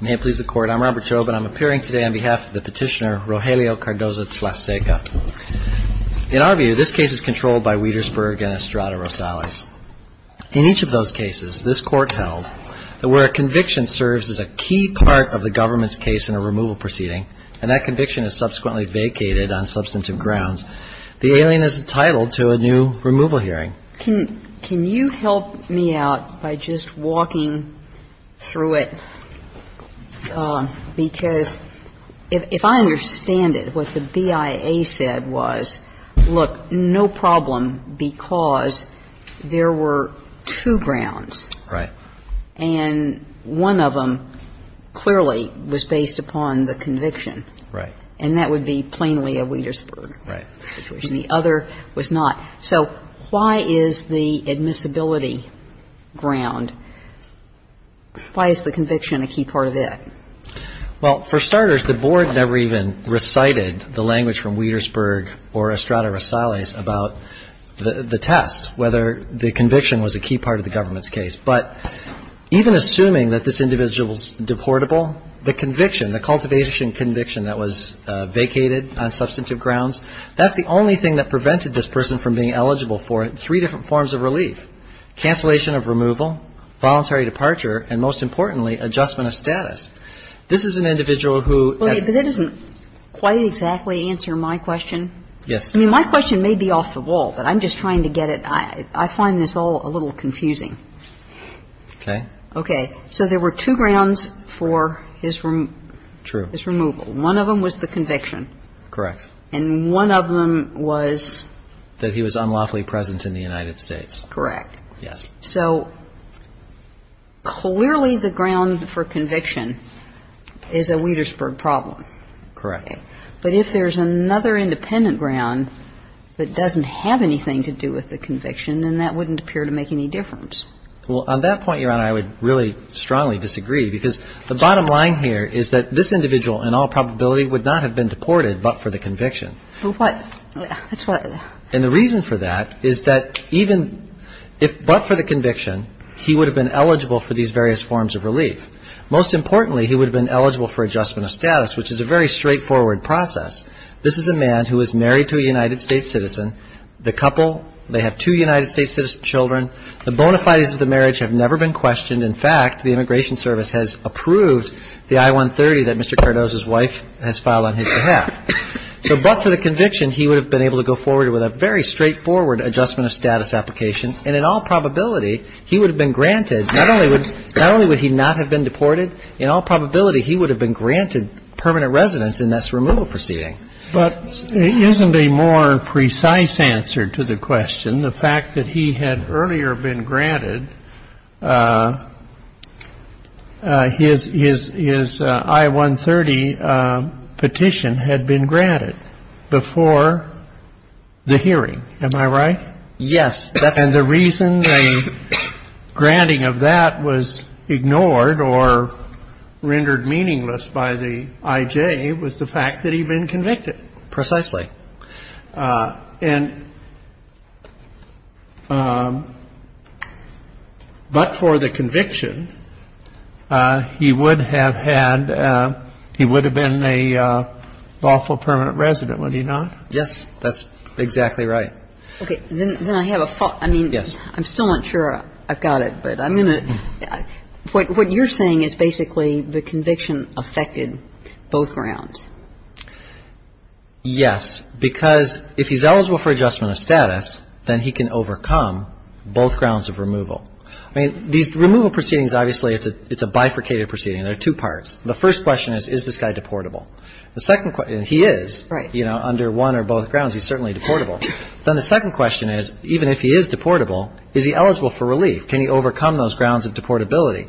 May it please the Court, I'm Robert Chobh and I'm appearing today on behalf of the petitioner Rogelio Cardozo-Tlaseca. In our view, this case is controlled by Wiedersberg and Estrada Rosales. In each of those cases, this Court held that where a conviction serves as a key part of the government's case in a removal proceeding, and that conviction is subsequently vacated on substantive grounds, the alien is entitled to a new removal hearing. Can you help me out by just walking through it? Because if I understand it, what the BIA said was, look, no problem, because there were two grounds. Right. And one of them clearly was based upon the conviction. Right. And that would be plainly a Wiedersberg situation. Right. The other was not. So why is the admissibility ground, why is the conviction a key part of it? Well, for starters, the Board never even recited the language from Wiedersberg or Estrada Rosales about the test, whether the conviction was a key part of the government's case. But even assuming that this individual's deportable, the conviction, the cultivation conviction that was vacated on substantive grounds, that's the only thing that prevented this person from being eligible for three different forms of relief, cancellation of removal, voluntary departure, and, most importantly, adjustment of status. This is an individual who at the time of his removal, he was not eligible for any of the three forms of relief. But that doesn't quite exactly answer my question. Yes. I mean, my question may be off the wall, but I'm just trying to get it. I find this all a little confusing. Okay. Okay. So there were two grounds for his removal. True. One of them was the conviction. Correct. And one of them was? That he was unlawfully present in the United States. Correct. Yes. So clearly the ground for conviction is a Wiedersberg problem. Correct. But if there's another independent ground that doesn't have anything to do with the conviction, then that wouldn't appear to make any difference. Well, on that point, Your Honor, I would really strongly disagree, because the bottom line here is that this individual in all probability would not have been deported but for the conviction. But what? And the reason for that is that even if but for the conviction, he would have been eligible for these various forms of relief. Most importantly, he would have been eligible for adjustment of status, which is a very straightforward process. This is a man who is married to a United States citizen. The couple, they have two United States children. The bona fides of the marriage have never been questioned. In fact, the Immigration Service has approved the I-130 that Mr. Cardozo's wife has filed on his behalf. So but for the conviction, he would have been able to go forward with a very straightforward adjustment of status application. And in all probability, he would have been granted not only would he not have been deported, in all probability, he would have been granted permanent residence in this removal proceeding. But isn't a more precise answer to the question the fact that he had earlier been granted his I-130 petition had been granted before the hearing? Am I right? Yes. And the reason the granting of that was ignored or rendered meaningless by the I.J. was the fact that he had been convicted? Precisely. And but for the conviction, he would have had he would have been a lawful permanent resident, would he not? Yes. That's exactly right. Okay. Then I have a thought. I mean, I'm still not sure I've got it, but I'm going to what you're saying is basically the conviction affected both grounds. Yes. Because if he's eligible for adjustment of status, then he can overcome both grounds of removal. I mean, these removal proceedings, obviously, it's a bifurcated proceeding. There are two parts. The first question is, is this guy deportable? The second question is, he is, you know, under one or both grounds, he's certainly deportable. Then the second question is, even if he is deportable, is he eligible for relief? Can he overcome those grounds of deportability?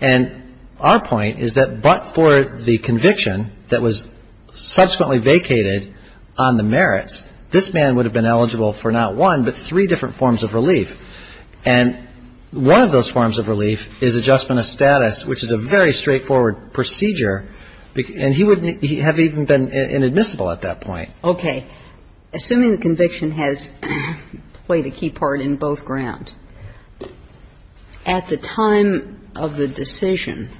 And our point is that but for the conviction that was subsequently vacated on the merits, this man would have been eligible for not one, but three different forms of relief. And one of those forms of relief is adjustment of status, which is a very straightforward procedure. And he would have even been inadmissible at that point. Okay. Assuming the conviction has played a key part in both grounds, at the time of the decision,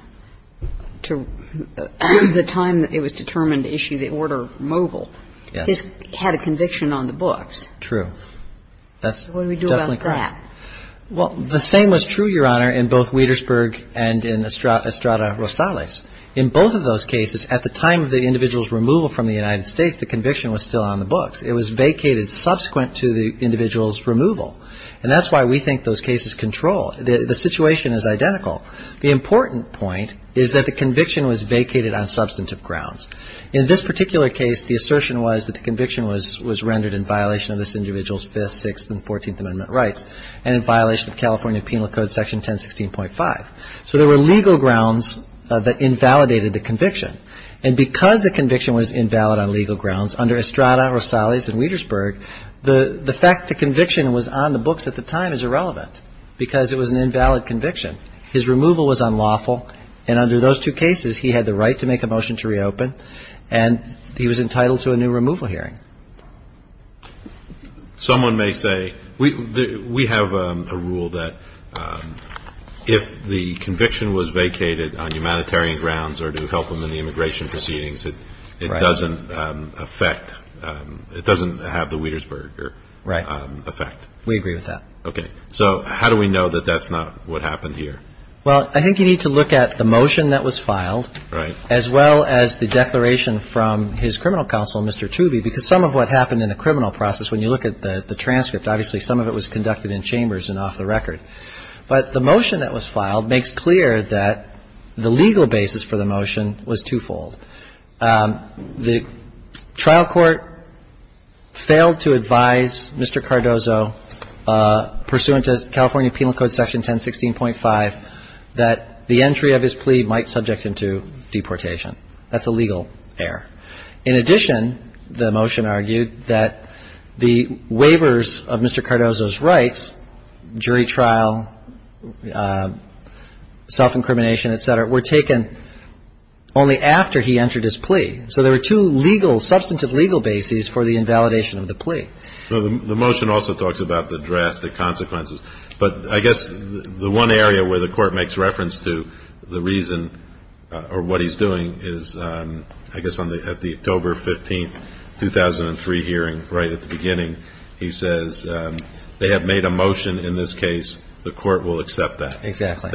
the time it was determined to issue the order of removal, he had a conviction on the books. True. What do we do about that? Well, the same was true, Your Honor, in both Wietersburg and in Estrada Rosales. In both of those cases, at the time of the individual's removal from the United States, the conviction was still on the books. It was vacated subsequent to the individual's removal. And that's why we think those cases control. The situation is identical. The important point is that the conviction was vacated on substantive grounds. In this particular case, the assertion was that the conviction was rendered in violation of this individual's Fifth, Sixth, and Fourteenth Amendment rights and in violation of California Penal Code Section 1016.5. So there were legal grounds that invalidated the conviction. And because the conviction was invalid on legal grounds under Estrada Rosales in Wietersburg, the fact the conviction was on the books at the time is irrelevant because it was an invalid conviction. His removal was unlawful. And under those two cases, he had the right to make a motion to reopen. And he was entitled to a new removal hearing. Someone may say, we have a rule that if the conviction was vacated on humanitarian grounds or to help him in the immigration proceedings, it doesn't affect, it doesn't have the Wietersburg effect. We agree with that. Okay. So how do we know that that's not what happened here? Well, I think you need to look at the motion that was filed as well as the declaration from his criminal counsel, Mr. Tooby, because some of what happened in the criminal process, when you look at the transcript, obviously some of it was conducted in chambers and off the record. But the motion that was filed makes clear that the legal basis for the motion was twofold. The trial court failed to advise Mr. Cardozo pursuant to California Penal Code Section 1016.5 that the entry of his plea might subject him to deportation. That's a legal error. In addition, the motion argued that the waivers of Mr. Cardozo's rights, jury trial, self-incrimination, et cetera, were taken only after he entered his plea. So there were two legal, substantive legal bases for the invalidation of the plea. So the motion also talks about the drastic consequences. But I guess the one area where the court makes reference to the reason or what he's doing is, I guess, at the October 15, 2003 hearing, right at the beginning, he says they have made a motion in this case. The court will accept that. Exactly.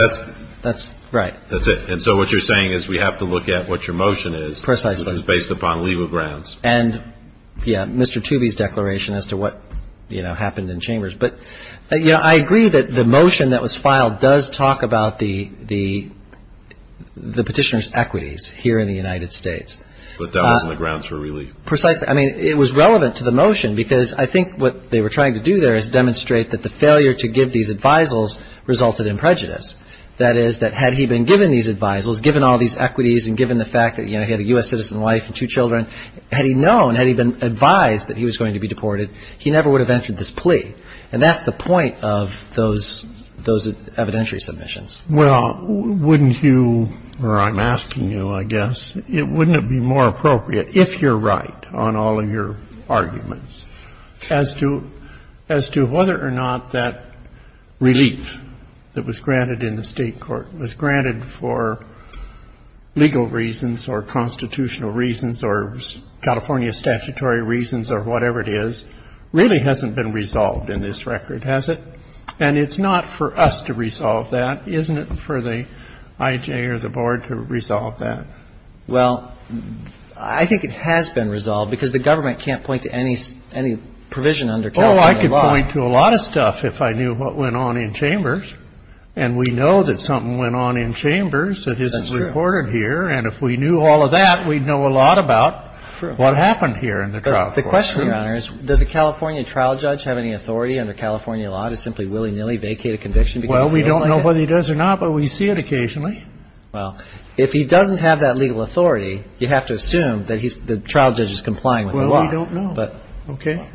That's right. That's it. And so what you're saying is we have to look at what your motion is. Precisely. Which is based upon legal grounds. And, yeah, Mr. Tooby's declaration as to what, you know, happened in chambers. But, you know, I agree that the motion that was filed does talk about the Petitioner's equities here in the United States. But that wasn't the grounds for relief. Precisely. I mean, it was relevant to the motion because I think what they were trying to do there is demonstrate that the failure to give these advisals resulted in prejudice. That is, that had he been given these advisals, given all these equities, and given the fact that, you know, he had a U.S. citizen wife and two children, had he known, had he been advised that he was going to be deported, he never would have entered this plea. And that's the point of those evidentiary submissions. Well, wouldn't you, or I'm asking you, I guess, wouldn't it be more appropriate, if you're right on all of your arguments, as to whether or not that relief that was granted in the State court, was granted for legal reasons or constitutional reasons or California statutory reasons or whatever it is, really hasn't been resolved in this record, has it? And it's not for us to resolve that. Isn't it for the I.J. or the Board to resolve that? Well, I think it has been resolved because the government can't point to any provision under California law. Oh, I could point to a lot of stuff if I knew what went on in Chambers. And we know that something went on in Chambers that isn't reported here. That's true. And if we knew all of that, we'd know a lot about what happened here in the trial case. And I think that's a good point. I think that's a good point. The question, Your Honor, is does a California trial judge have any authority under California law to simply willy-nilly vacate a conviction because he feels like it? Well, we don't know whether he does or not, but we see it occasionally. Well, if he doesn't have that legal authority, you have to assume that he's the trial judge is complying with the law. Well, we don't know. Okay.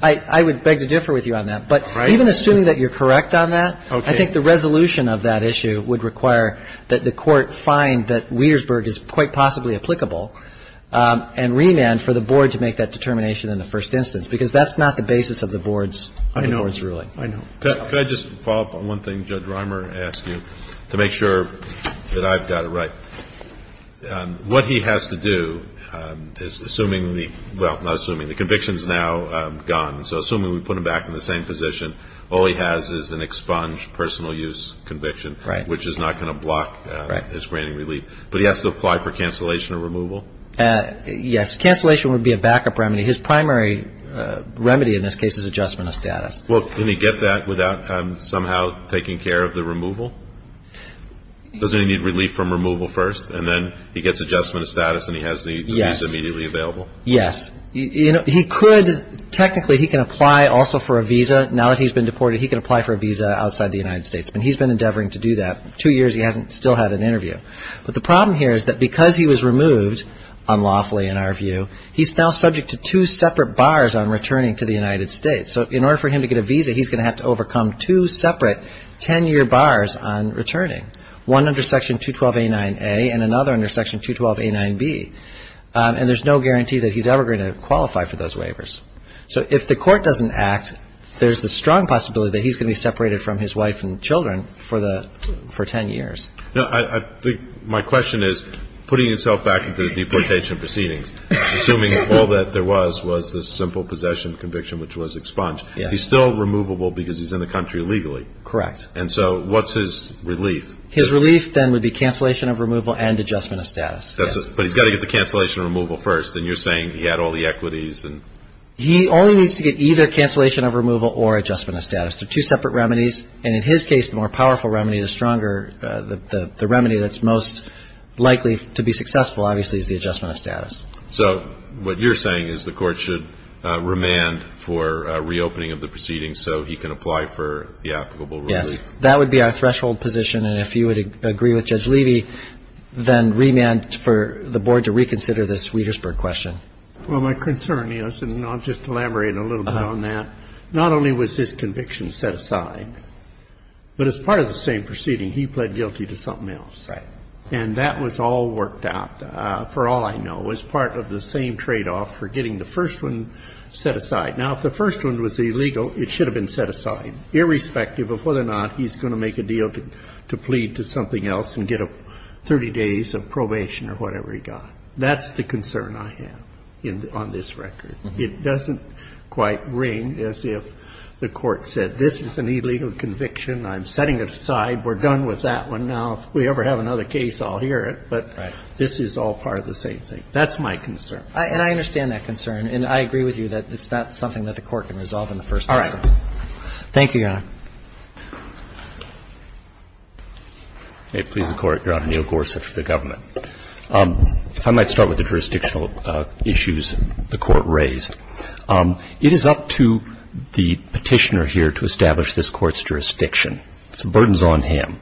I would beg to differ with you on that. But even assuming that you're correct on that, I think the resolution of that issue would require that the court find that Wetersberg is quite possibly applicable and remand for the board to make that determination in the first instance, because that's not the basis of the board's ruling. I know. I know. Could I just follow up on one thing Judge Reimer asked you to make sure that I've got it right? What he has to do is assuming the – well, not assuming. The conviction's now gone. So assuming we put him back in the same position, all he has is an expunged personal use conviction. Right. Which is not going to block his granting relief. Right. But he has to apply for cancellation or removal? Yes. Cancellation would be a backup remedy. His primary remedy in this case is adjustment of status. Well, can he get that without somehow taking care of the removal? Doesn't he need relief from removal first, and then he gets adjustment of status and he has the visa immediately available? Yes. You know, he could – technically he can apply also for a visa. Now that he's been deported, he can apply for a visa outside the United States. And he's been endeavoring to do that. Two years he hasn't still had an interview. But the problem here is that because he was removed unlawfully in our view, he's now subject to two separate bars on returning to the United States. So in order for him to get a visa, he's going to have to overcome two separate 10-year bars on returning, one under Section 212A9A and another under Section 212A9B. And there's no guarantee that he's ever going to qualify for those waivers. So if the court doesn't act, there's the strong possibility that he's going to be separated from his wife and children for the – for 10 years. Now, I think my question is putting yourself back into the deportation proceedings, assuming all that there was was this simple possession conviction which was expunged. Yes. He's still removable because he's in the country legally. Correct. And so what's his relief? His relief then would be cancellation of removal and adjustment of status. That's a – but he's got to get the cancellation of removal first. And you're saying he had all the equities and – He only needs to get either cancellation of removal or adjustment of status. They're two separate remedies. And in his case, the more powerful remedy, the stronger – the remedy that's most likely to be successful, obviously, is the adjustment of status. So what you're saying is the court should remand for reopening of the proceedings so he can apply for the applicable relief? Yes. That would be our threshold position. And if you would agree with Judge Levy, then remand for the board to reconsider this Wedersberg question. Well, my concern is – and I'll just elaborate a little bit on that. Not only was his conviction set aside, but as part of the same proceeding, he pled guilty to something else. Right. And that was all worked out, for all I know, as part of the same tradeoff for getting the first one set aside. Now, if the first one was illegal, it should have been set aside, irrespective of whether or not he's going to make a deal to plead to something else and get 30 days of probation or whatever he got. That's the concern I have on this record. It doesn't quite ring as if the Court said, this is an illegal conviction, I'm setting it aside, we're done with that one. Now, if we ever have another case, I'll hear it. But this is all part of the same thing. That's my concern. And I understand that concern, and I agree with you that it's not something that the Court can resolve in the first instance. All right. Thank you, Your Honor. May it please the Court, Your Honor. Neil Gorsuch for the government. If I might start with the jurisdictional issues the Court raised. It is up to the petitioner here to establish this Court's jurisdiction. It's burdens on him.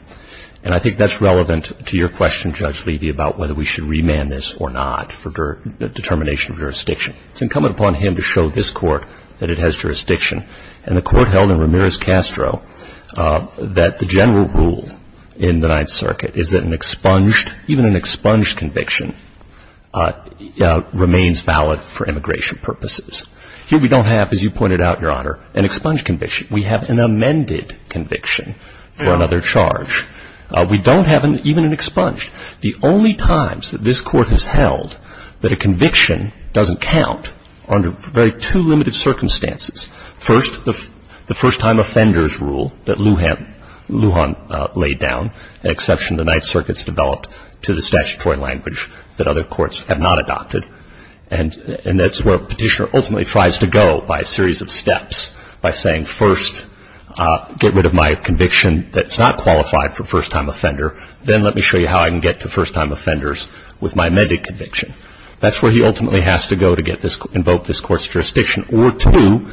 And I think that's relevant to your question, Judge Levy, about whether we should remand this or not for determination of jurisdiction. It's incumbent upon him to show this Court that it has jurisdiction. And the Court held in Ramirez-Castro that the general rule in the Ninth Circuit is that an expunged, even an expunged conviction remains valid for immigration purposes. Here we don't have, as you pointed out, Your Honor, an expunged conviction. We have an amended conviction for another charge. We don't have even an expunged. The only times that this Court has held that a conviction doesn't count under very two limited circumstances. First, the first-time offenders rule that Lujan laid down, an exception the Ninth Circuit's developed to the statutory language that other courts have not adopted. And that's where a petitioner ultimately tries to go by a series of steps, by saying, first, get rid of my conviction that's not qualified for first-time offender. Then let me show you how I can get to first-time offenders with my amended conviction. That's where he ultimately has to go to get this, invoke this Court's jurisdiction. Or two,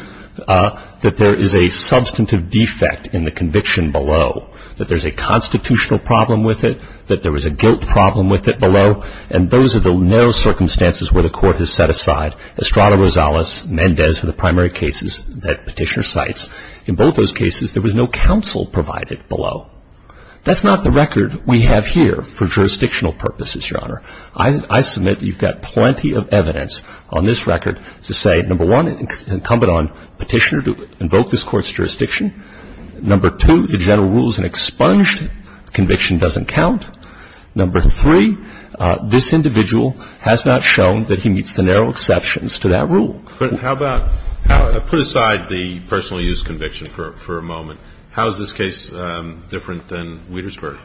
that there is a substantive defect in the conviction below. That there's a constitutional problem with it. That there is a guilt problem with it below. And those are the narrow circumstances where the Court has set aside Estrada Rosales, Mendez for the primary cases that petitioner cites. In both those cases, there was no counsel provided below. That's not the record we have here for jurisdictional purposes, Your Honor. I submit that you've got plenty of evidence on this record to say, number one, it's incumbent on petitioner to invoke this Court's jurisdiction. Number two, the general rule is an expunged conviction doesn't count. Number three, this individual has not shown that he meets the narrow exceptions to that rule. But how about, put aside the personal use conviction for a moment. How is this case different than Wietersburg?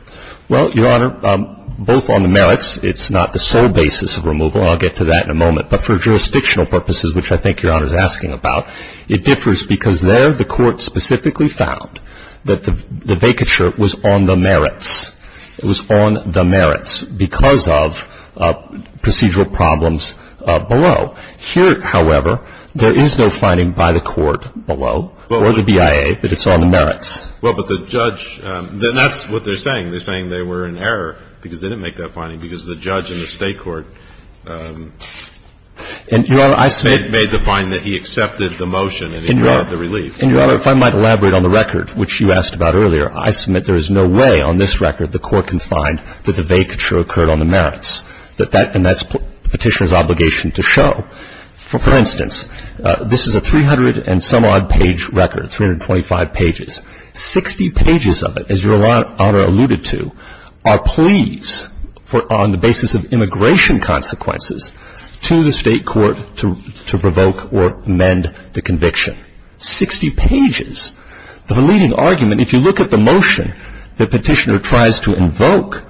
Well, Your Honor, both on the merits. It's not the sole basis of removal. I'll get to that in a moment. But for jurisdictional purposes, which I think Your Honor is asking about, it differs because there the Court specifically found that the vacature was on the merits. It was on the merits because of procedural problems below. Here, however, there is no finding by the Court below or the BIA that it's on the merits. Well, but the judge, that's what they're saying. They're saying they were in error because they didn't make that finding because the judge in the State court made the finding that he accepted the motion and he grabbed the relief. And, Your Honor, if I might elaborate on the record, which you asked about earlier, I submit there is no way on this record the Court can find that the vacature occurred on the merits. And that's Petitioner's obligation to show. For instance, this is a 300-and-some-odd-page record, 325 pages. Sixty pages of it, as Your Honor alluded to, are pleas on the basis of immigration consequences to the State court to provoke or amend the conviction. Sixty pages of a leading argument. If you look at the motion that Petitioner tries to invoke,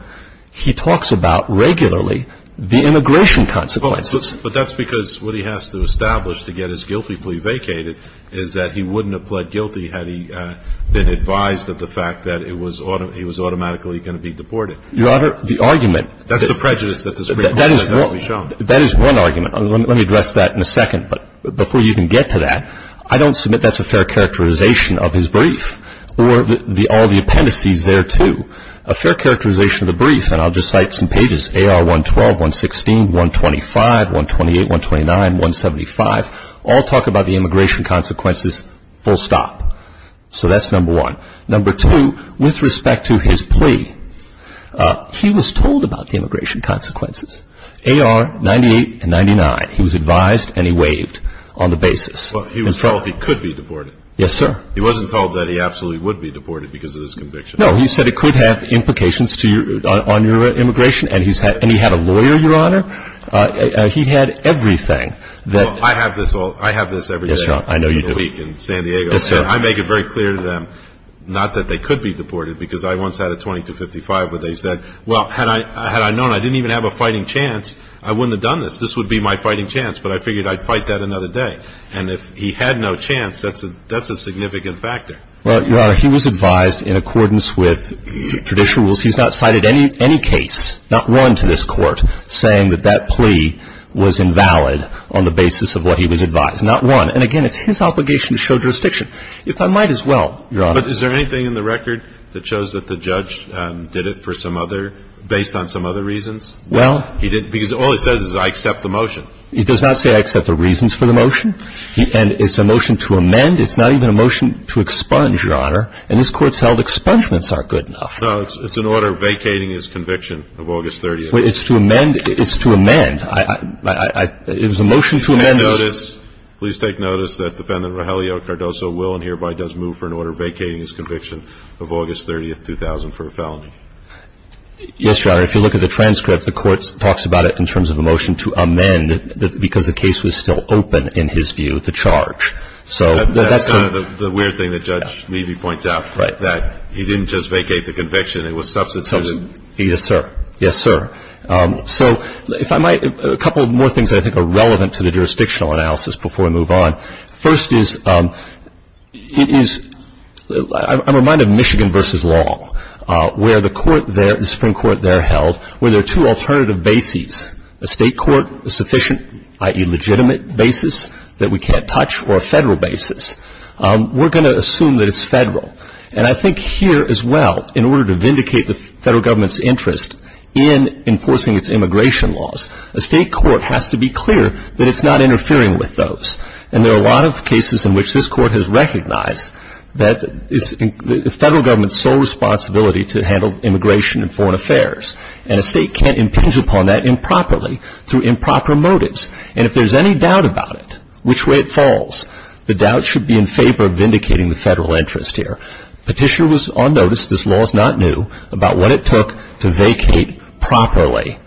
he talks about regularly the immigration consequences. But that's because what he has to establish to get his guilty plea vacated is that he has been advised of the fact that it was automatically going to be deported. Your Honor, the argument that the prejudice that the Supreme Court has to be shown. That is one argument. Let me address that in a second. But before you even get to that, I don't submit that's a fair characterization of his brief or all the appendices there, too. A fair characterization of the brief, and I'll just cite some pages, AR 112, 116, 125, 128, 129, 175, all talk about the immigration consequences full stop. So that's number one. Number two, with respect to his plea, he was told about the immigration consequences. AR 98 and 99, he was advised and he waived on the basis. He was told he could be deported. Yes, sir. He wasn't told that he absolutely would be deported because of this conviction. No, he said it could have implications on your immigration, and he had a lawyer, Your Honor. He had everything. I have this every day. Yes, Your Honor. I know you do. I have this every week in San Diego. Yes, sir. I make it very clear to them, not that they could be deported, because I once had a 2255 where they said, well, had I known I didn't even have a fighting chance, I wouldn't have done this. This would be my fighting chance. But I figured I'd fight that another day. And if he had no chance, that's a significant factor. Well, Your Honor, he was advised in accordance with traditional rules. He's not cited any case, not one to this Court, saying that that plea was invalid on the basis of what he was advised. Not one. And again, it's his obligation to show jurisdiction. If I might as well, Your Honor. But is there anything in the record that shows that the judge did it for some other – based on some other reasons? Well – Because all it says is I accept the motion. It does not say I accept the reasons for the motion. And it's a motion to amend. It's not even a motion to expunge, Your Honor. And this Court's held expungements aren't good enough. No, it's an order vacating his conviction of August 30th. It's to amend. It's to amend. It was a motion to amend. Please take notice. Please take notice that Defendant Rogelio Cardoso will and hereby does move for an order vacating his conviction of August 30th, 2000, for a felony. Yes, Your Honor. If you look at the transcript, the Court talks about it in terms of a motion to amend because the case was still open, in his view, to charge. So that's – That's kind of the weird thing that Judge Meavy points out. Right. That he didn't just vacate the conviction. It was substituted. Yes, sir. Yes, sir. So if I might – a couple more things I think are relevant to the jurisdictional analysis before we move on. First is it is – I'm reminded of Michigan v. Long, where the Supreme Court there held where there are two alternative bases, a state court, a sufficient, i.e., legitimate basis that we can't touch, or a Federal basis. We're going to assume that it's Federal. And I think here as well, in order to vindicate the Federal Government's interest in enforcing its immigration laws, a state court has to be clear that it's not interfering with those. And there are a lot of cases in which this Court has recognized that it's the Federal Government's sole responsibility to handle immigration and foreign affairs, and a state can't impinge upon that improperly through improper motives. And if there's any doubt about it, which way it falls, the doubt should be in favor of vindicating the Federal interest here. Petitioner was on notice, this law is not new, about what it took to vacate properly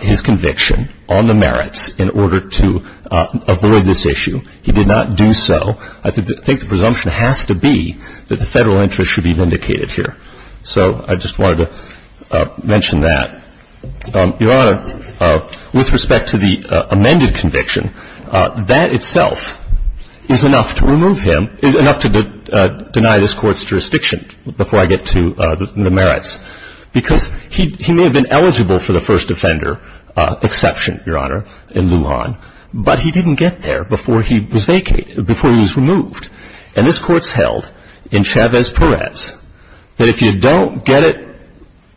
his conviction on the merits in order to avoid this issue. He did not do so. I think the presumption has to be that the Federal interest should be vindicated here. So I just wanted to mention that. Your Honor, with respect to the amended conviction, that itself is enough to remove him, enough to deny this Court's jurisdiction before I get to the merits, because he may have been eligible for the first offender exception, Your Honor, in Lujan, but he didn't get there before he was vacated, before he was removed. And this Court's held in Chavez-Perez that if you don't get it,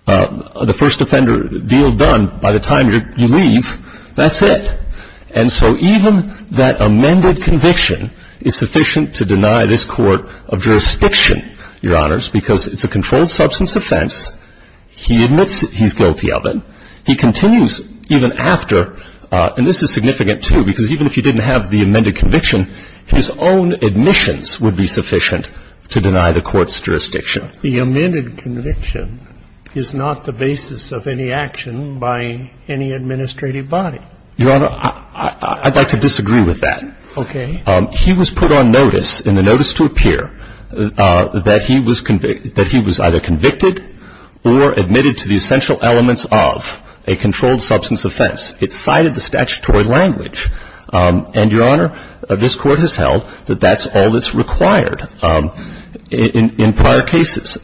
the first offender deal done by the time you leave, that's it. And so even that amended conviction is sufficient to deny this Court a jurisdiction, Your Honors, because it's a controlled substance offense. He admits he's guilty of it. He continues even after, and this is significant, too, because even if he didn't have the amended conviction, his own admissions would be sufficient to deny the Court's jurisdiction. The amended conviction is not the basis of any action by any administrative body. Your Honor, I'd like to disagree with that. Okay. He was put on notice, and the notice to appear, that he was either convicted or admitted to the essential elements of a controlled substance offense. It cited the statutory language. And, Your Honor, this Court has held that that's all that's required. In prior cases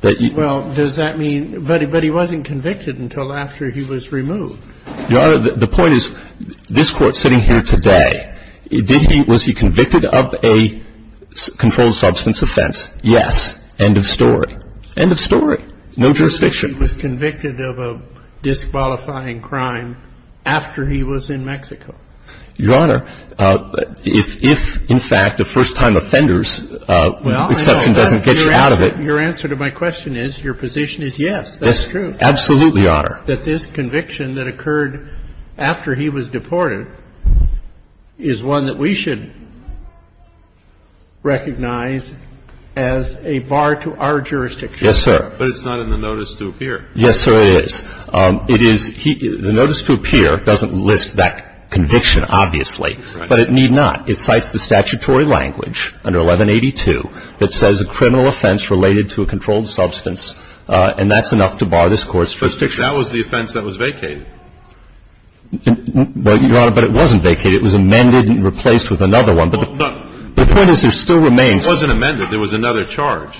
that you ---- Well, does that mean ---- but he wasn't convicted until after he was removed. Your Honor, the point is, this Court sitting here today, did he ---- was he convicted of a controlled substance offense? Yes. End of story. End of story. No jurisdiction. He was convicted of a disqualifying crime after he was in Mexico. Your Honor, if, in fact, a first-time offender's exception doesn't get you out of it ---- Well, your answer to my question is, your position is yes, that's true. Absolutely, Your Honor. That this conviction that occurred after he was deported is one that we should recognize as a bar to our jurisdiction. Yes, sir. But it's not in the notice to appear. Yes, sir, it is. It is. The notice to appear doesn't list that conviction, obviously. But it need not. It cites the statutory language under 1182 that says a criminal offense related to a controlled substance, and that's enough to bar this Court's jurisdiction. But that was the offense that was vacated. Well, Your Honor, but it wasn't vacated. It was amended and replaced with another one. But the point is, there still remains ---- It wasn't amended. There was another charge.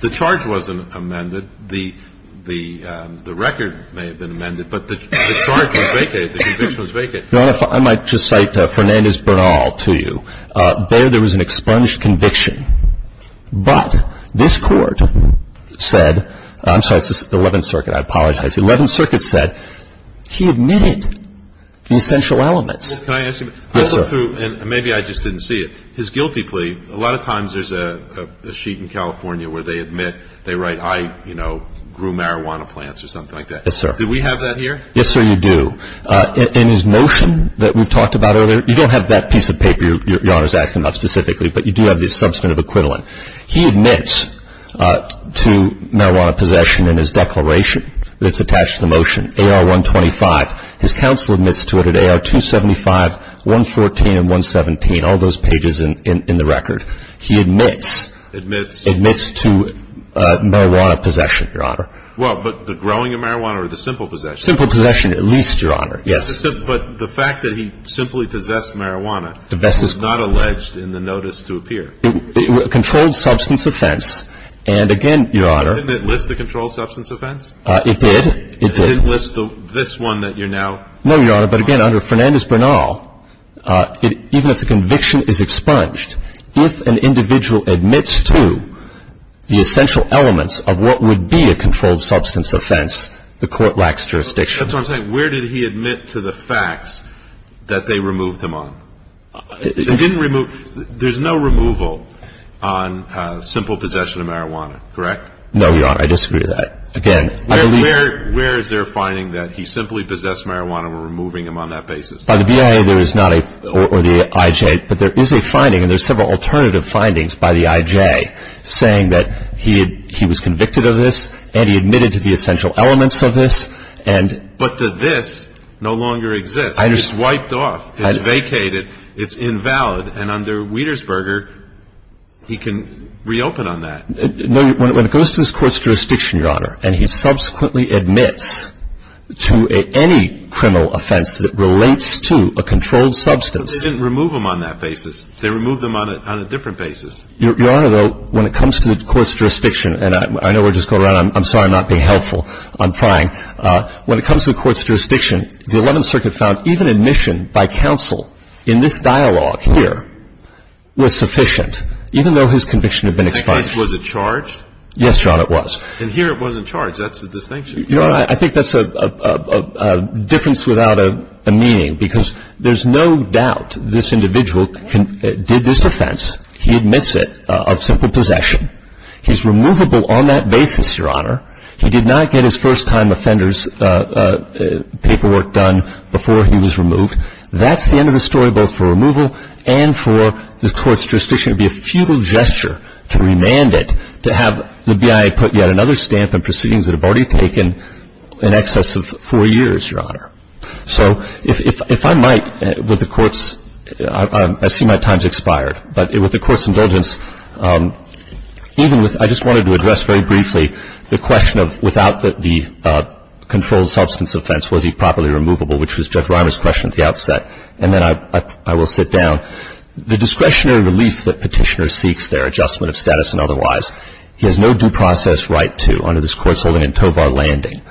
The charge wasn't amended. The record may have been amended, but the charge was vacated. The conviction was vacated. Your Honor, if I might just cite Fernandez Bernal to you. There, there was an expunged conviction. But this Court said ---- I'm sorry, it's the Eleventh Circuit. I apologize. The Eleventh Circuit said he admitted the essential elements. Well, can I ask you a question? Yes, sir. I looked through, and maybe I just didn't see it. His guilty plea, a lot of times there's a sheet in California where they admit they write, I, you know, grew marijuana plants or something like that. Yes, sir. Do we have that here? Yes, sir, you do. In his motion that we've talked about earlier, you don't have that piece of paper, Your Honor's asking about specifically, but you do have the substantive equivalent. He admits to marijuana possession in his declaration that's attached to the motion, AR 125. His counsel admits to it at AR 275, 114, and 117, all those pages in the record. He admits. Admits. Admits to marijuana possession, Your Honor. Well, but the growing of marijuana or the simple possession? Simple possession, at least, Your Honor. Yes. But the fact that he simply possessed marijuana is not alleged in the notice to appear. It was a controlled substance offense, and again, Your Honor ---- Didn't it list the controlled substance offense? It did. It didn't list this one that you're now ---- No, Your Honor, but again, under Fernandez-Bernal, even if the conviction is expunged, if an individual admits to the essential elements of what would be a controlled substance offense, the court lacks jurisdiction. That's what I'm saying. Where did he admit to the facts that they removed him on? They didn't remove ---- There's no removal on simple possession of marijuana, correct? No, Your Honor. I disagree with that. Again, I believe ---- Where is there a finding that he simply possessed marijuana and we're removing him on that basis? By the BIA, there is not a ---- or the IJ, but there is a finding, and there's several alternative findings by the IJ, saying that he was convicted of this, and he admitted to the essential elements of this, and ---- But the this no longer exists. I just ---- It's wiped off. It's vacated. It's invalid. And under Wietersberger, he can reopen on that. When it goes to his court's jurisdiction, Your Honor, and he subsequently admits to any criminal offense that relates to a controlled substance ---- But they didn't remove him on that basis. They removed him on a different basis. Your Honor, though, when it comes to the court's jurisdiction, and I know we're just going around. I'm sorry I'm not being helpful. I'm trying. When it comes to the court's jurisdiction, the Eleventh Circuit found even admission by counsel in this dialogue here was sufficient, even though his conviction had been expunged. Was it charged? Yes, Your Honor, it was. And here it wasn't charged. That's the distinction. Your Honor, I think that's a difference without a meaning, because there's no doubt this individual did this offense. He admits it of simple possession. He's removable on that basis, Your Honor. He did not get his first-time offender's paperwork done before he was removed. That's the end of the story both for removal and for the court's jurisdiction. It would be a futile gesture to remand it, to have the BIA put yet another stamp in proceedings that have already taken in excess of four years, Your Honor. So if I might, with the court's ---- I see my time's expired. But with the court's indulgence, even with ---- I just wanted to address very briefly the question of without the controlled substance offense, was he properly removable, which was Jeff Reimer's question at the outset. And then I will sit down. The discretionary relief that Petitioner seeks there, adjustment of status and otherwise, he has no due process right to under this Court's holding in Tovar Landing.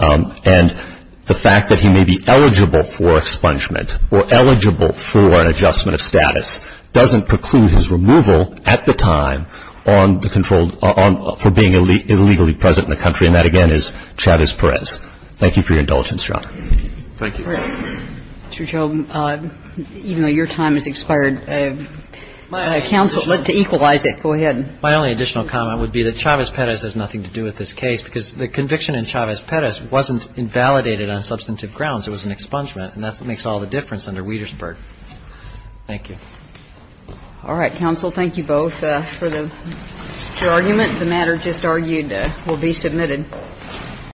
And the fact that he may be eligible for expungement or eligible for an adjustment of status doesn't preclude his removal at the time for being illegally present in the country. And that, again, is Chavez-Perez. Thank you for your indulgence, Your Honor. Thank you. Mr. Chauvin, even though your time has expired, counsel, to equalize it, go ahead. My only additional comment would be that Chavez-Perez has nothing to do with this case, because the conviction in Chavez-Perez wasn't invalidated on substantive grounds. It was an expungement. And that's what makes all the difference under Wietersburg. Thank you. All right. Counsel, thank you both for your argument. The matter just argued will be submitted. Thank you.